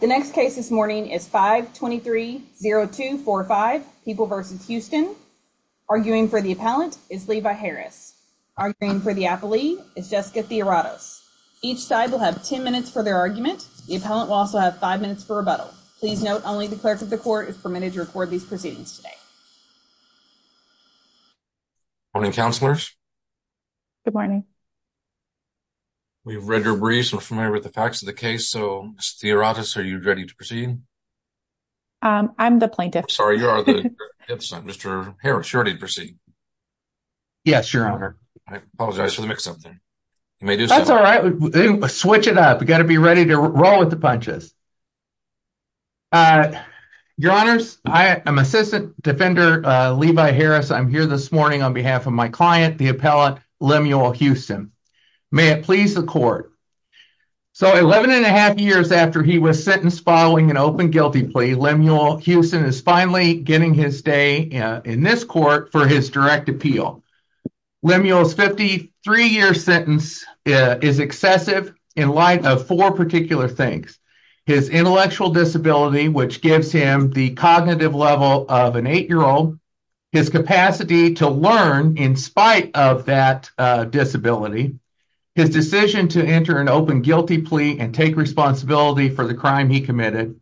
The next case this morning is 523-0245, People v. Houston. Arguing for the appellant is Levi Harris. Arguing for the appellee is Jessica Theoratos. Each side will have 10 minutes for their argument. The appellant will also have 5 minutes for rebuttal. Please note, only the clerk of the court is permitted to record these proceedings today. Morning, counselors. Good morning. We've read your briefs, we're familiar with the facts of the case, so Ms. Theoratos, are you ready to proceed? I'm the plaintiff. Sorry, you are the plaintiff's son. Mr. Harris, you're ready to proceed. Yes, Your Honor. I apologize for the mix-up there. You may do so. That's all right. Switch it up. We got to be ready to roll with the punches. Your Honors, I am Assistant Defender Levi Harris. I'm here this morning on behalf of my client, the appellant, Lemuel Houston. May it please the court. So, 11 and a half years after he was sentenced following an open guilty plea, Lemuel Houston is finally getting his day in this court for his direct appeal. Lemuel's 53-year sentence is excessive in light of four particular things. His intellectual disability, which gives him the cognitive level of an 8-year-old, his capacity to learn in spite of that disability, his decision to enter an open guilty plea and take responsibility for the crime he committed,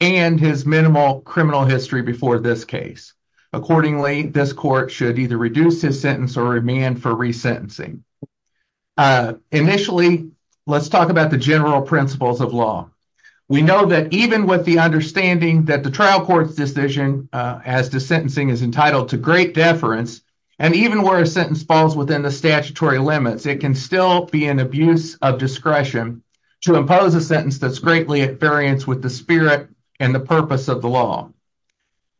and his minimal criminal history before this case. Accordingly, this court should either reduce his sentence or remand for resentencing. Initially, let's talk about the general principles of law. We know that even with the understanding that the trial court's decision as to sentencing is entitled to great deference, and even where a sentence falls within the statutory limits, it can still be an abuse of discretion to impose a sentence that's greatly at variance with the spirit and the purpose of the law.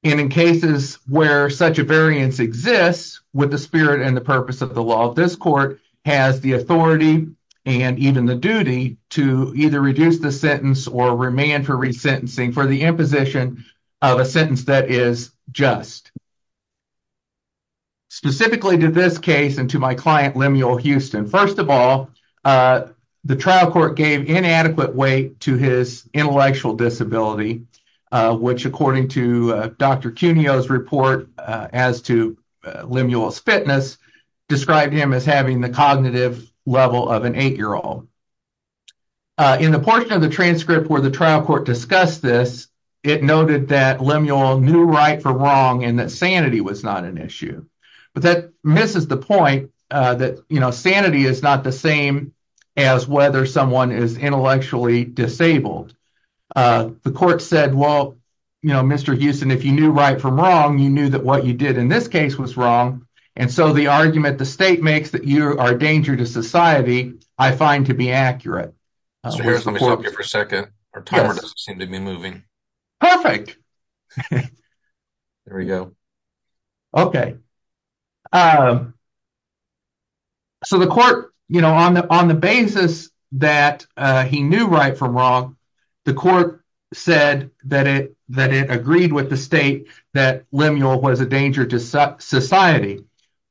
And in cases where such a variance exists with the spirit and the purpose of the law, this court has the authority and even the duty to either reduce the sentence or remand for resentencing for the imposition of a sentence that is just. Specifically to this case and to my client Lemuel Houston, first of all, the trial court gave inadequate weight to his intellectual disability, which according to Dr. Cuneo's report as to Lemuel's fitness, described him as having the cognitive level of an 8-year-old. In the portion of the transcript where the trial court discussed this, it noted that Lemuel knew right from wrong and that sanity was not an issue. But that misses the point that, you know, sanity is not the same as whether someone is intellectually disabled. The court said, well, you know, Mr. Houston, if you knew right from wrong, you knew that what you did in this case was wrong, and so the argument the state makes that you are a danger to society, I find to be accurate. So here, let me stop you for a second. Our timer doesn't seem to be moving. Perfect. There we go. Okay. So the court, you know, on the basis that he knew right from wrong, the court said that it agreed with the state that Lemuel was a danger to society.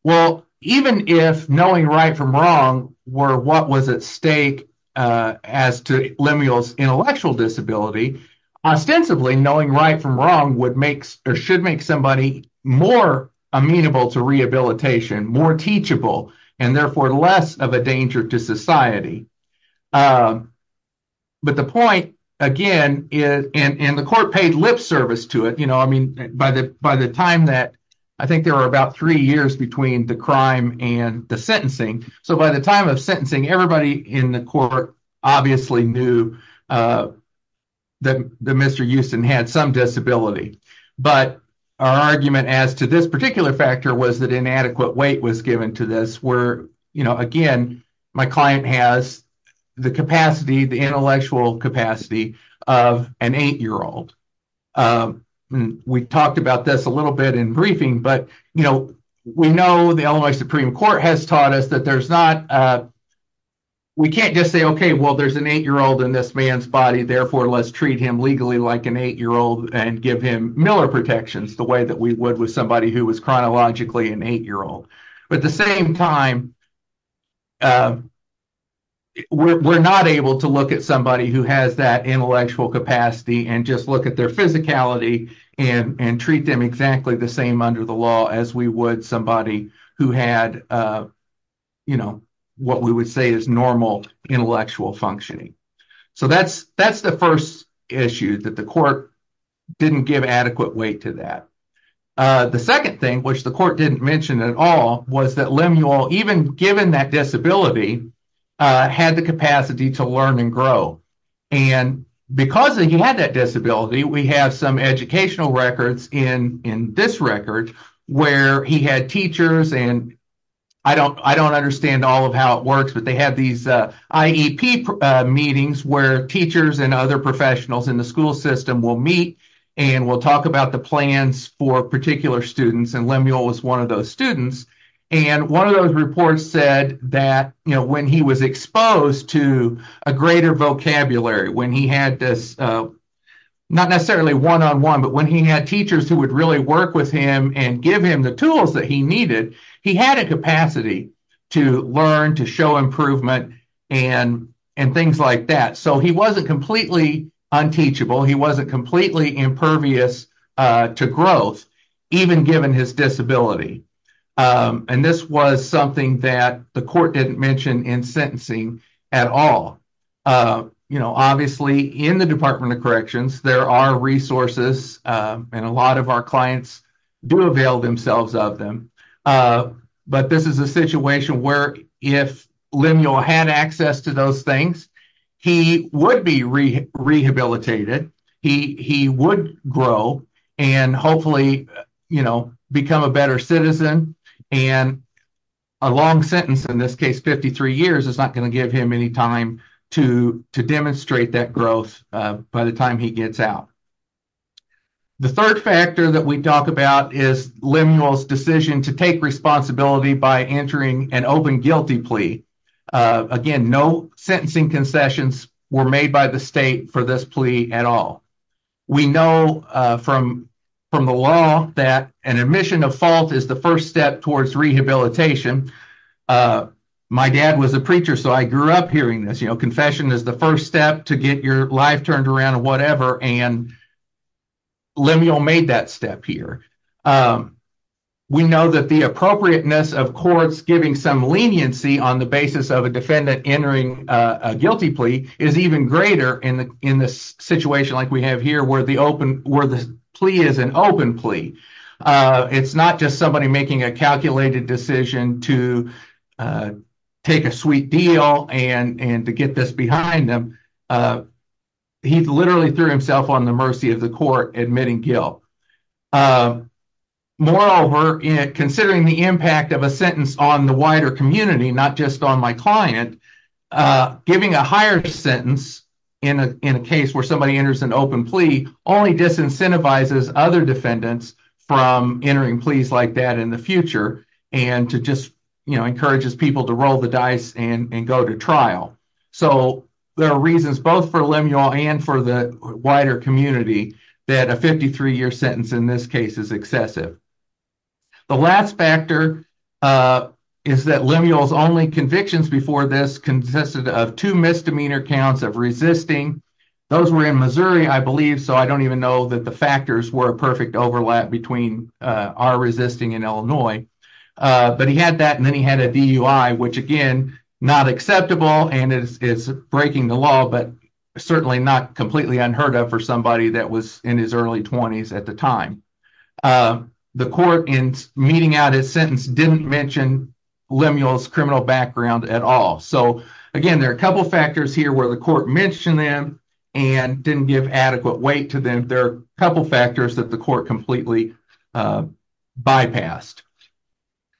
Well, even if knowing right from wrong were what was at stake as to Lemuel's intellectual disability, ostensibly knowing right from wrong would make or should make somebody more amenable to rehabilitation, more teachable, and therefore less of a danger to society. But the point, again, and the court paid lip service to it, you know, I mean, by the time that, I think there were about three years between the crime and the sentencing. So by the time of sentencing, everybody in the court obviously knew that Mr. Euston had some disability. But our argument as to this particular factor was that inadequate weight was given to this where, you know, again, my client has the capacity, the intellectual capacity of an eight-year-old. We talked about this a little bit in briefing, but, you know, we know the Illinois Supreme Court has taught us that there's not, we can't just say, okay, well, there's an eight-year-old in this man's body, therefore, let's treat him legally like an eight-year-old and give him Miller protections the way that we would with somebody who was chronologically an eight-year-old. But at the same time, we're not able to look at somebody who has that intellectual capacity and just look at their physicality and treat them exactly the same under the law as we would somebody who had, you know, what we would say is normal intellectual functioning. So that's the first issue, that the court didn't give adequate weight to that. The second thing, which the court didn't mention at all, was that Lemuel, even given that disability, had the capacity to learn and grow. And because he had that disability, we have some educational records in this record where he had teachers, and I don't understand all of how it works, but they had these IEP meetings where teachers and other professionals in the school system will meet and will talk about the plans for particular students, and Lemuel was one of those students. And one of those reports said that, you know, when he was exposed to a greater vocabulary, when he had this, not necessarily one-on-one, but when he had teachers who would really work with him and give him the tools that he needed, he had a capacity to learn, to show improvement, and things like that. So he wasn't completely unteachable, he wasn't completely impervious to growth, even given his disability. And this was something that the court didn't mention in sentencing at all. You know, obviously, in the Department of Corrections, there are resources, and a lot of our clients do avail themselves of them, but this is a situation where if Lemuel had access to those things, he would be rehabilitated, he would grow, and hopefully, you know, become a better citizen, and a long sentence, in this case 53 years, is not going to give him any time to demonstrate that growth by the time he gets out. The third factor that we talk about is Lemuel's decision to take responsibility by entering an open guilty plea. Again, no sentencing concessions were made by the state for this plea at all. We know from the law that an admission of fault is the first step towards rehabilitation. My dad was a preacher, so I grew up hearing this, you know, confession is the first step to get your life turned around or whatever, and Lemuel made that step here. We know that the appropriateness of courts giving some leniency on the basis of a defendant entering a guilty plea is even greater in this situation like we have here, where the plea is an open plea. It's not just somebody making a calculated decision to take a sweet deal and to get this behind them. He literally threw himself on the mercy of the court admitting guilt. Moreover, considering the impact of a sentence on the wider community, not just on my client, giving a higher sentence in a case where somebody enters an open plea only disincentivizes other defendants from entering pleas like that in the future and to just, you know, encourages people to roll the dice and go to trial. So there are reasons both for Lemuel and for the wider community that a 53-year sentence in this case is excessive. The last factor is that Lemuel's only convictions before this consisted of two misdemeanor counts of resisting. Those were in Missouri, I believe, so I don't even know that the factors were a perfect overlap between our resisting and Illinois. But he had that, and then he had a DUI, which again, not acceptable, and it's breaking the law, but certainly not completely unheard of for somebody that was in his early 20s at the time. The court, in meeting out his sentence, didn't mention Lemuel's criminal background at all. So again, there are a couple factors here where the court mentioned them and didn't give adequate weight to them. There are a couple factors that the court completely bypassed.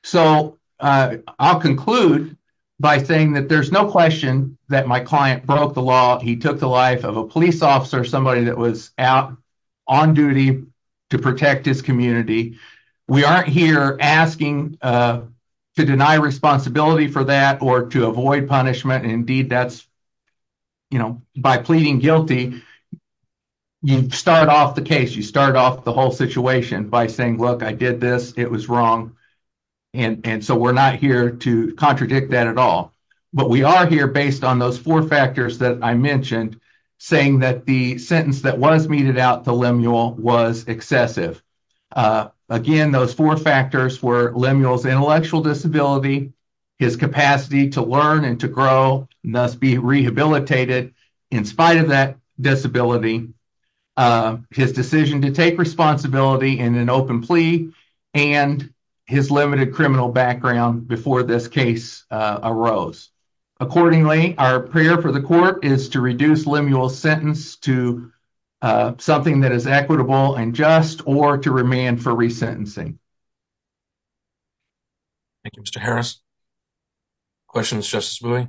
So I'll conclude by saying that there's no question that my client broke the law. He took the life of a police officer, somebody that was on duty to protect his community. We aren't here asking to deny responsibility for that or to avoid punishment. Indeed, by pleading guilty, you start off the case, you start off the whole situation by saying, look, I did this, it was wrong, and so we're not here to contradict that at all. But we are here based on those four factors that I mentioned, saying that the sentence that was meted out to Lemuel was excessive. Again, those four factors were Lemuel's intellectual disability, his capacity to learn and to grow, and thus be rehabilitated in spite of that disability, his decision to take responsibility in an open plea, and his limited criminal background before this case arose. Accordingly, our prayer for the court is to reduce Lemuel's sentence to something that is equitable and just, or to remand for resentencing. Thank you, Mr. Harris. Questions, Justice Bowie?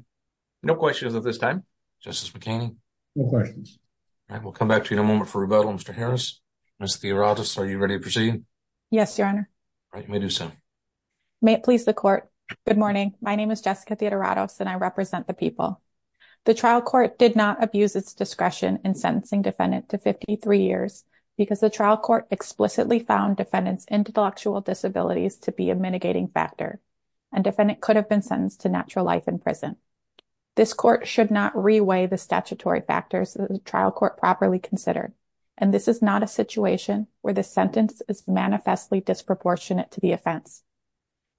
No questions at this time. Justice McKinney? No questions. All right, we'll come back to you in a moment for rebuttal, Mr. Harris. Ms. Theodorakis, are you ready to proceed? Yes, Your Honor. All right, you may do so. May it please the court. Good morning. My name is Jessica Theodorakis, and I represent the people. The trial court did not abuse its discretion in sentencing defendant to 53 years because the trial court explicitly found defendant's intellectual disabilities to be a mitigating factor, and defendant could have been sentenced to natural life in prison. This court should not reweigh the statutory factors that the trial court properly considered, and this is not a situation where the sentence is manifestly disproportionate to the offense.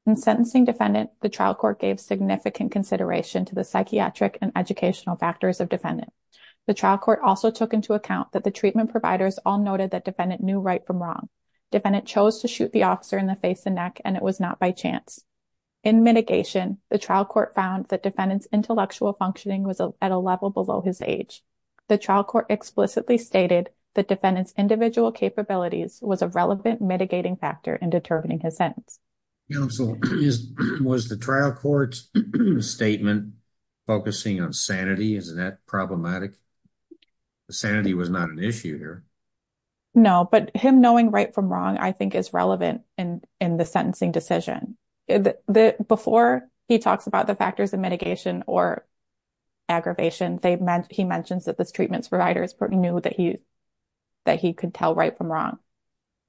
In sentencing defendant, the trial court gave significant consideration to the psychiatric and educational factors of defendant. The trial court also took into account that the treatment providers all noted that defendant knew right from wrong. Defendant chose to shoot the officer in the face and neck, and it was not by chance. In mitigation, the trial court found that defendant's intellectual functioning was at a level below his age. The trial court explicitly stated that defendant's individual capabilities was a relevant mitigating factor in determining his sentence. Counsel, was the trial court's statement focusing on sanity? Isn't that problematic? The sanity was not an issue here. No, but him knowing right from wrong, I think, is relevant in the sentencing decision. Before he talks about the factors of mitigation or this treatment providers knew that he could tell right from wrong,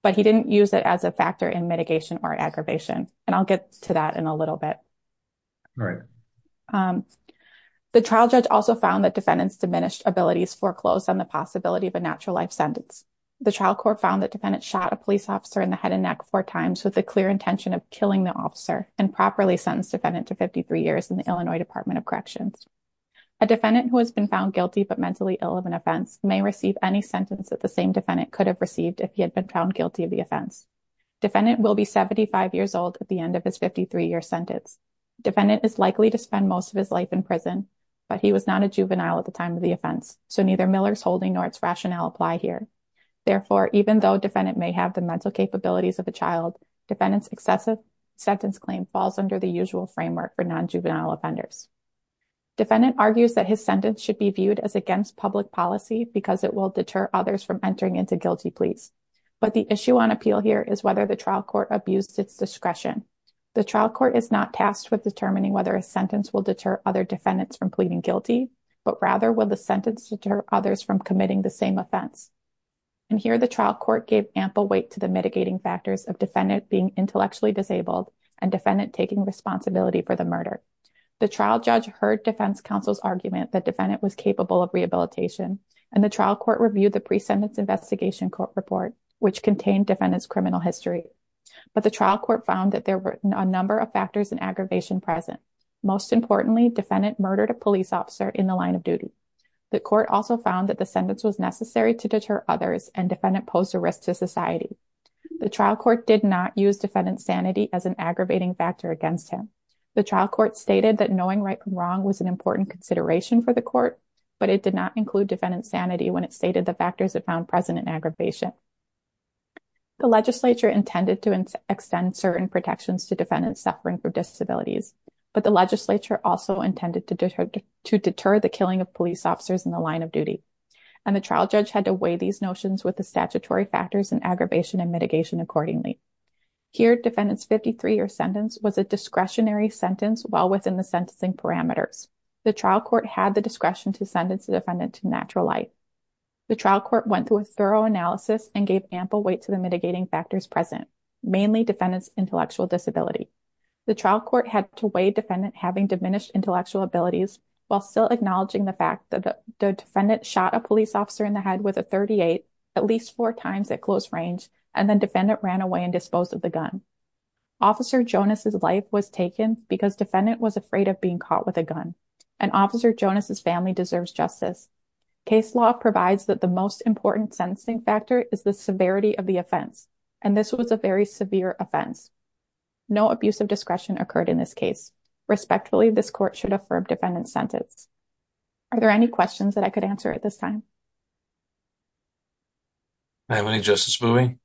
but he didn't use it as a factor in mitigation or aggravation, and I'll get to that in a little bit. The trial judge also found that defendants diminished abilities foreclosed on the possibility of a natural life sentence. The trial court found that defendant shot a police officer in the head and neck four times with the clear intention of killing the officer and properly sentenced defendant to 53 years in the Illinois Department of Corrections. A defendant who has been found guilty but mentally ill of an offense may receive any sentence that the same defendant could have received if he had been found guilty of the offense. Defendant will be 75 years old at the end of his 53-year sentence. Defendant is likely to spend most of his life in prison, but he was not a juvenile at the time of the offense, so neither Miller's holding nor its rationale apply here. Therefore, even though defendant may have the mental capabilities of a child, defendant's excessive sentence claim falls under the usual framework for non-juvenile offenders. Defendant argues that his sentence should be viewed as against public policy because it will deter others from entering into guilty pleas. But the issue on appeal here is whether the trial court abused its discretion. The trial court is not tasked with determining whether a sentence will deter other defendants from pleading guilty, but rather will the sentence deter others from committing the same offense. And here the trial court gave ample weight to the mitigating factors of defendant being intellectually disabled and defendant taking responsibility for the murder. The trial judge heard defense counsel's argument that defendant was capable of rehabilitation, and the trial court reviewed the pre-sentence investigation court report, which contained defendant's criminal history. But the trial court found that there were a number of factors and aggravation present. Most importantly, defendant murdered a police officer in the line of duty. The court also found that the sentence was necessary to deter others and defendant posed a risk to society. The trial court did not use defendant's sanity as an aggravating factor against him. The trial court stated that knowing right from wrong was an important consideration for the court, but it did not include defendant's sanity when it stated the factors that found present in aggravation. The legislature intended to extend certain protections to defendants suffering from disabilities, but the legislature also intended to deter the killing of police officers in the line of duty. And the trial judge had to weigh these notions with the statutory factors and aggravation and mitigation accordingly. Here, defendant's 53-year sentence was a discretionary sentence well within the sentencing parameters. The trial court had the discretion to sentence the defendant to natural life. The trial court went through a thorough analysis and gave ample weight to the mitigating factors present, mainly defendant's intellectual disability. The trial court had to weigh defendant having diminished intellectual abilities while still acknowledging the fact that the defendant shot a police officer in the head with a .38 at least four times at close range, and then defendant ran away and disposed of the gun. Officer Jonas' life was taken because defendant was afraid of being caught with a gun, and Officer Jonas' family deserves justice. Case law provides that the most important sentencing factor is the severity of the offense, and this was a very severe offense. No abuse of discretion occurred in this case. Respectfully, this court should affirm defendant's sentence. Are there any questions that I could answer at this time? I have any, Justice Mouey?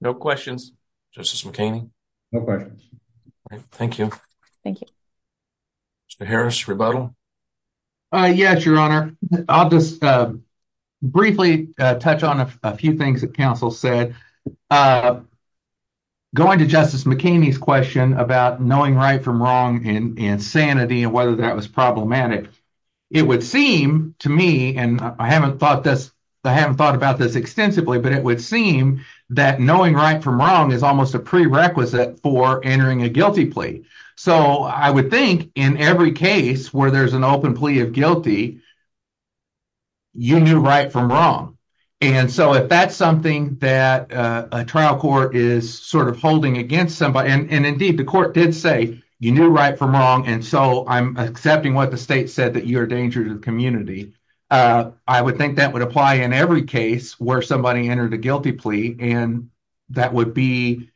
No questions. Justice McKinney? No questions. Thank you. Thank you. Mr. Harris, rebuttal? Yes, Your Honor. I'll just briefly touch on a few things that counsel said. Going to Justice McKinney's question about knowing right from wrong and insanity and whether that was problematic, it would seem to me, and I haven't thought about this extensively, but it would seem that knowing right from wrong is almost a prerequisite for entering a guilty plea. So I would think in every case where there's an open plea of guilty, you knew right from wrong. And so if that's something that a trial court is sort of holding against somebody, and indeed, the court did say, you knew right from wrong, and so I'm accepting what the state said that you are a danger to the community. I would think that would apply in every case where somebody entered a guilty plea, and that would be,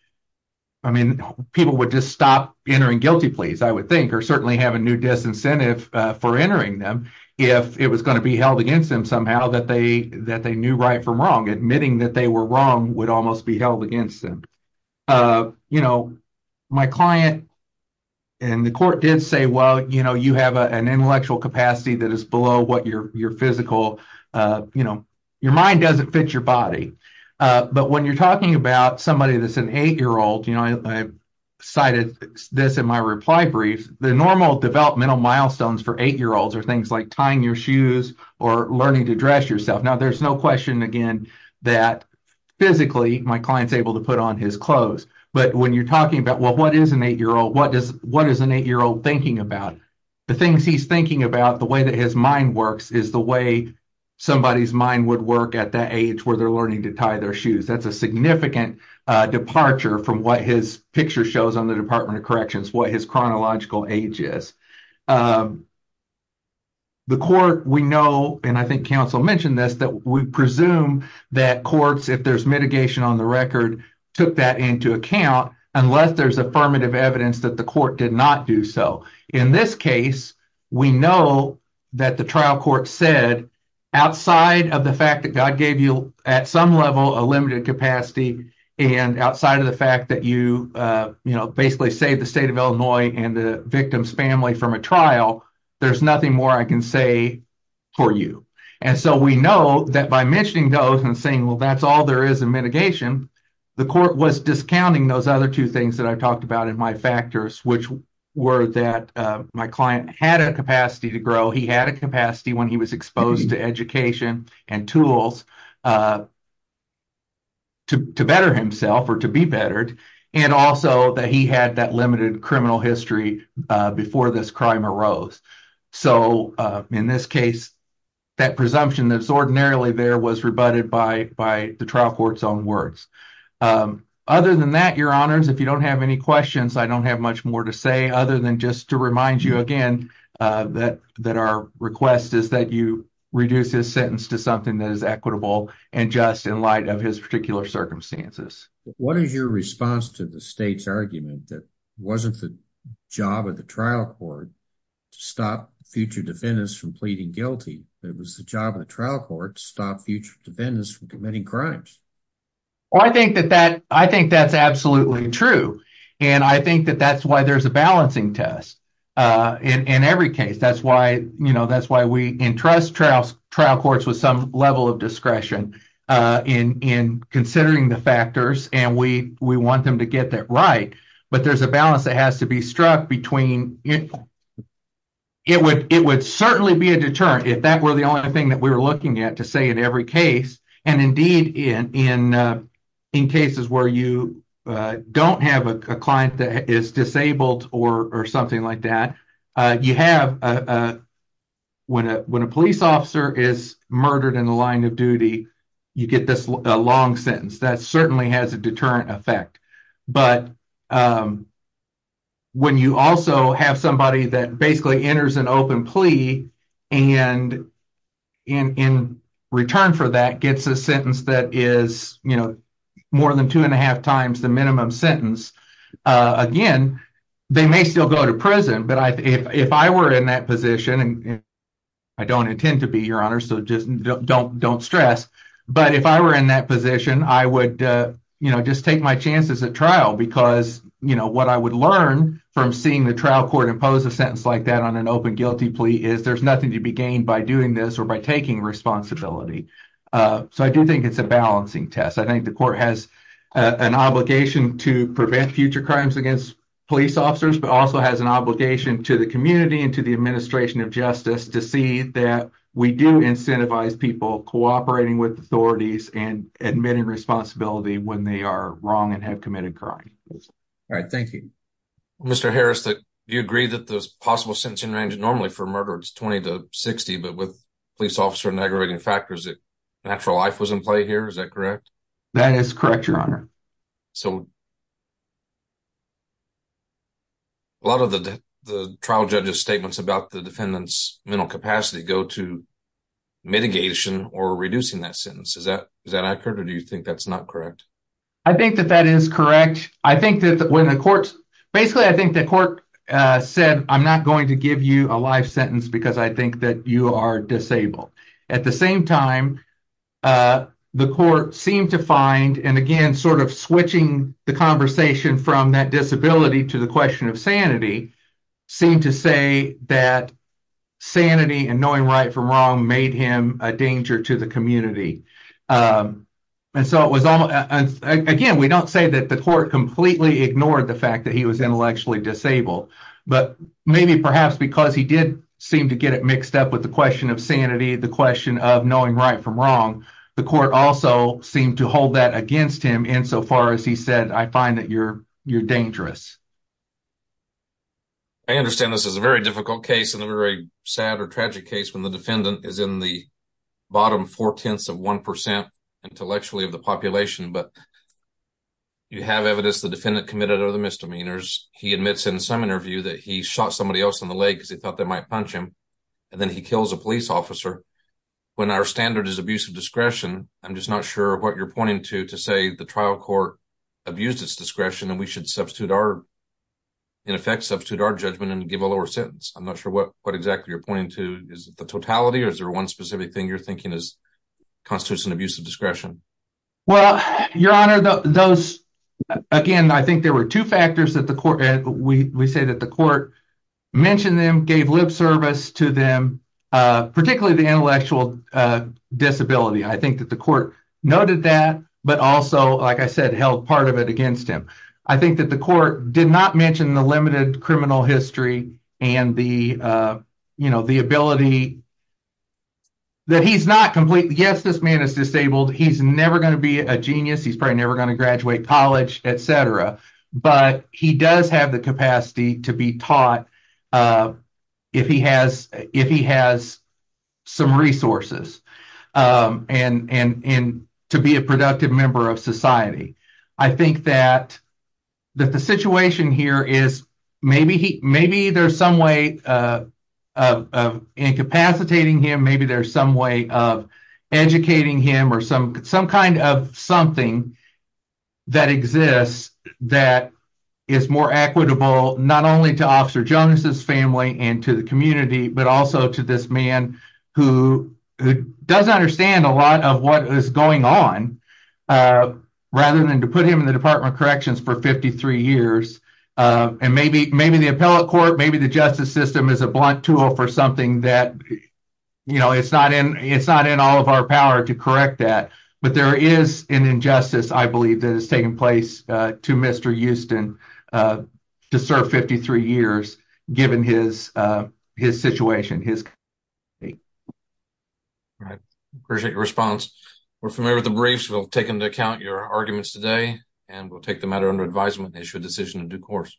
I mean, people would just stop entering guilty pleas, I would think, or certainly have a new disincentive for entering them if it was going to be held against them somehow that they knew right from wrong. Admitting that they were wrong would almost be held against them. My client and the court did say, well, you have an intellectual capacity that is below what your physical, your mind doesn't fit your body. But when you're talking about somebody that's an eight-year-old, I cited this in my reply brief, the normal developmental milestones for eight-year-olds are things like tying your shoes or learning to dress yourself. Now, there's no question, again, that physically my client's able to put on his clothes. But when you're talking about, well, what is an eight-year-old thinking about? The things he's thinking about, the way that his mind works, is the way somebody's mind would work at that age where they're learning to tie their shoes. That's a significant departure from what his picture shows on the Department of Corrections, what his chronological age is. The court, we know, and I think counsel mentioned this, that we presume that courts, if there's mitigation on the record, took that into account unless there's affirmative evidence that the court did not do so. In this case, we know that the trial court said, outside of the fact that God gave you at some level a limited capacity, and outside of the fact that you basically saved the state of Illinois and the victim's family from a trial, there's nothing more I can say for you. And so we know that by mentioning those and saying, well, that's all there is in mitigation, the court was discounting those other two things that I talked about in my factors, which were that my client had a capacity to grow, he had a capacity when he was exposed to education and tools to better himself or to be bettered, and also that he had that limited criminal history before this crime arose. So in this case, that presumption that's ordinarily there was rebutted by the trial court's own words. Other than that, Your Honors, if you don't have any questions, I don't have much more to say other than just to remind you again that our request is that you reduce his sentence to something that is equitable and just in light of his particular circumstances. What is your response to the state's argument that it wasn't the job of the trial court to stop future defendants from pleading guilty? It was the job of the trial court to stop future defendants from committing crimes. Well, I think that's absolutely true, and I think that that's why there's a balancing test in every case. That's why we entrust trial courts with some level of discretion in considering the factors, and we want them to get that right. But there's a balance that has to be struck between it would certainly be a deterrent if that were the only thing that we were looking at to say in every case, and indeed, in cases where you don't have a client that is disabled or something like that, you have when a police officer is murdered in the line of duty, you get this long sentence. That certainly has a deterrent effect, but when you also have somebody that basically is more than two and a half times the minimum sentence, again, they may still go to prison, but if I were in that position, and I don't intend to be, Your Honor, so just don't stress, but if I were in that position, I would just take my chances at trial because what I would learn from seeing the trial court impose a sentence like that on an open guilty plea is there's nothing to be gained by doing this or by taking responsibility. So I do think it's a balancing test. I think the court has an obligation to prevent future crimes against police officers, but also has an obligation to the community and to the administration of justice to see that we do incentivize people cooperating with authorities and admitting responsibility when they are wrong and have committed crime. All right, thank you. Mr. Harris, do you agree that the possible sentencing range normally for murder is 20 to 60, but with police officer aggravating factors that natural life was in play here, is that correct? That is correct, Your Honor. So a lot of the trial judge's statements about the defendant's mental capacity go to mitigation or reducing that sentence. Is that accurate, or do you think that's not correct? I think that that is correct. I think that when the court, basically, I think the court said, I'm not going to give you a life sentence because I think that you are disabled. At the same time, the court seemed to find, and again, sort of switching the conversation from that disability to the question of sanity, seemed to say that sanity and knowing right from wrong made him a danger to the community. Again, we don't say that the court completely ignored the but maybe perhaps because he did seem to get it mixed up with the question of sanity, the question of knowing right from wrong, the court also seemed to hold that against him insofar as he said, I find that you're dangerous. I understand this is a very difficult case and a very sad or tragic case when the defendant is in the bottom four-tenths of one percent intellectually of the population, but you have evidence the he shot somebody else in the leg because he thought they might punch him, and then he kills a police officer. When our standard is abuse of discretion, I'm just not sure what you're pointing to to say the trial court abused its discretion and we should in effect substitute our judgment and give a lower sentence. I'm not sure what exactly you're pointing to. Is it the totality, or is there one specific thing you're thinking constitutes an abuse of discretion? Well, Your Honor, those, again, I think there were two factors that the mentioned them, gave lip service to them, particularly the intellectual disability. I think that the court noted that, but also, like I said, held part of it against him. I think that the court did not mention the limited criminal history and the ability that he's not complete. Yes, this man is disabled. He's never going to be a genius. He's probably have the capacity to be taught if he has some resources and to be a productive member of society. I think that the situation here is maybe there's some way of incapacitating him. Maybe there's some way of educating him or some kind of something that exists that is more equitable, not only to Officer Jones's family and to the community, but also to this man who doesn't understand a lot of what is going on, rather than to put him in the Department of Corrections for 53 years. Maybe the appellate court, maybe the justice system is a blunt tool for something that you know, it's not in all of our power to correct that. But there is an injustice, I believe, that has taken place to Mr. Houston to serve 53 years, given his situation. I appreciate your response. We're familiar with the briefs. We'll take into account your arguments today and we'll take the matter under advisement and issue a decision in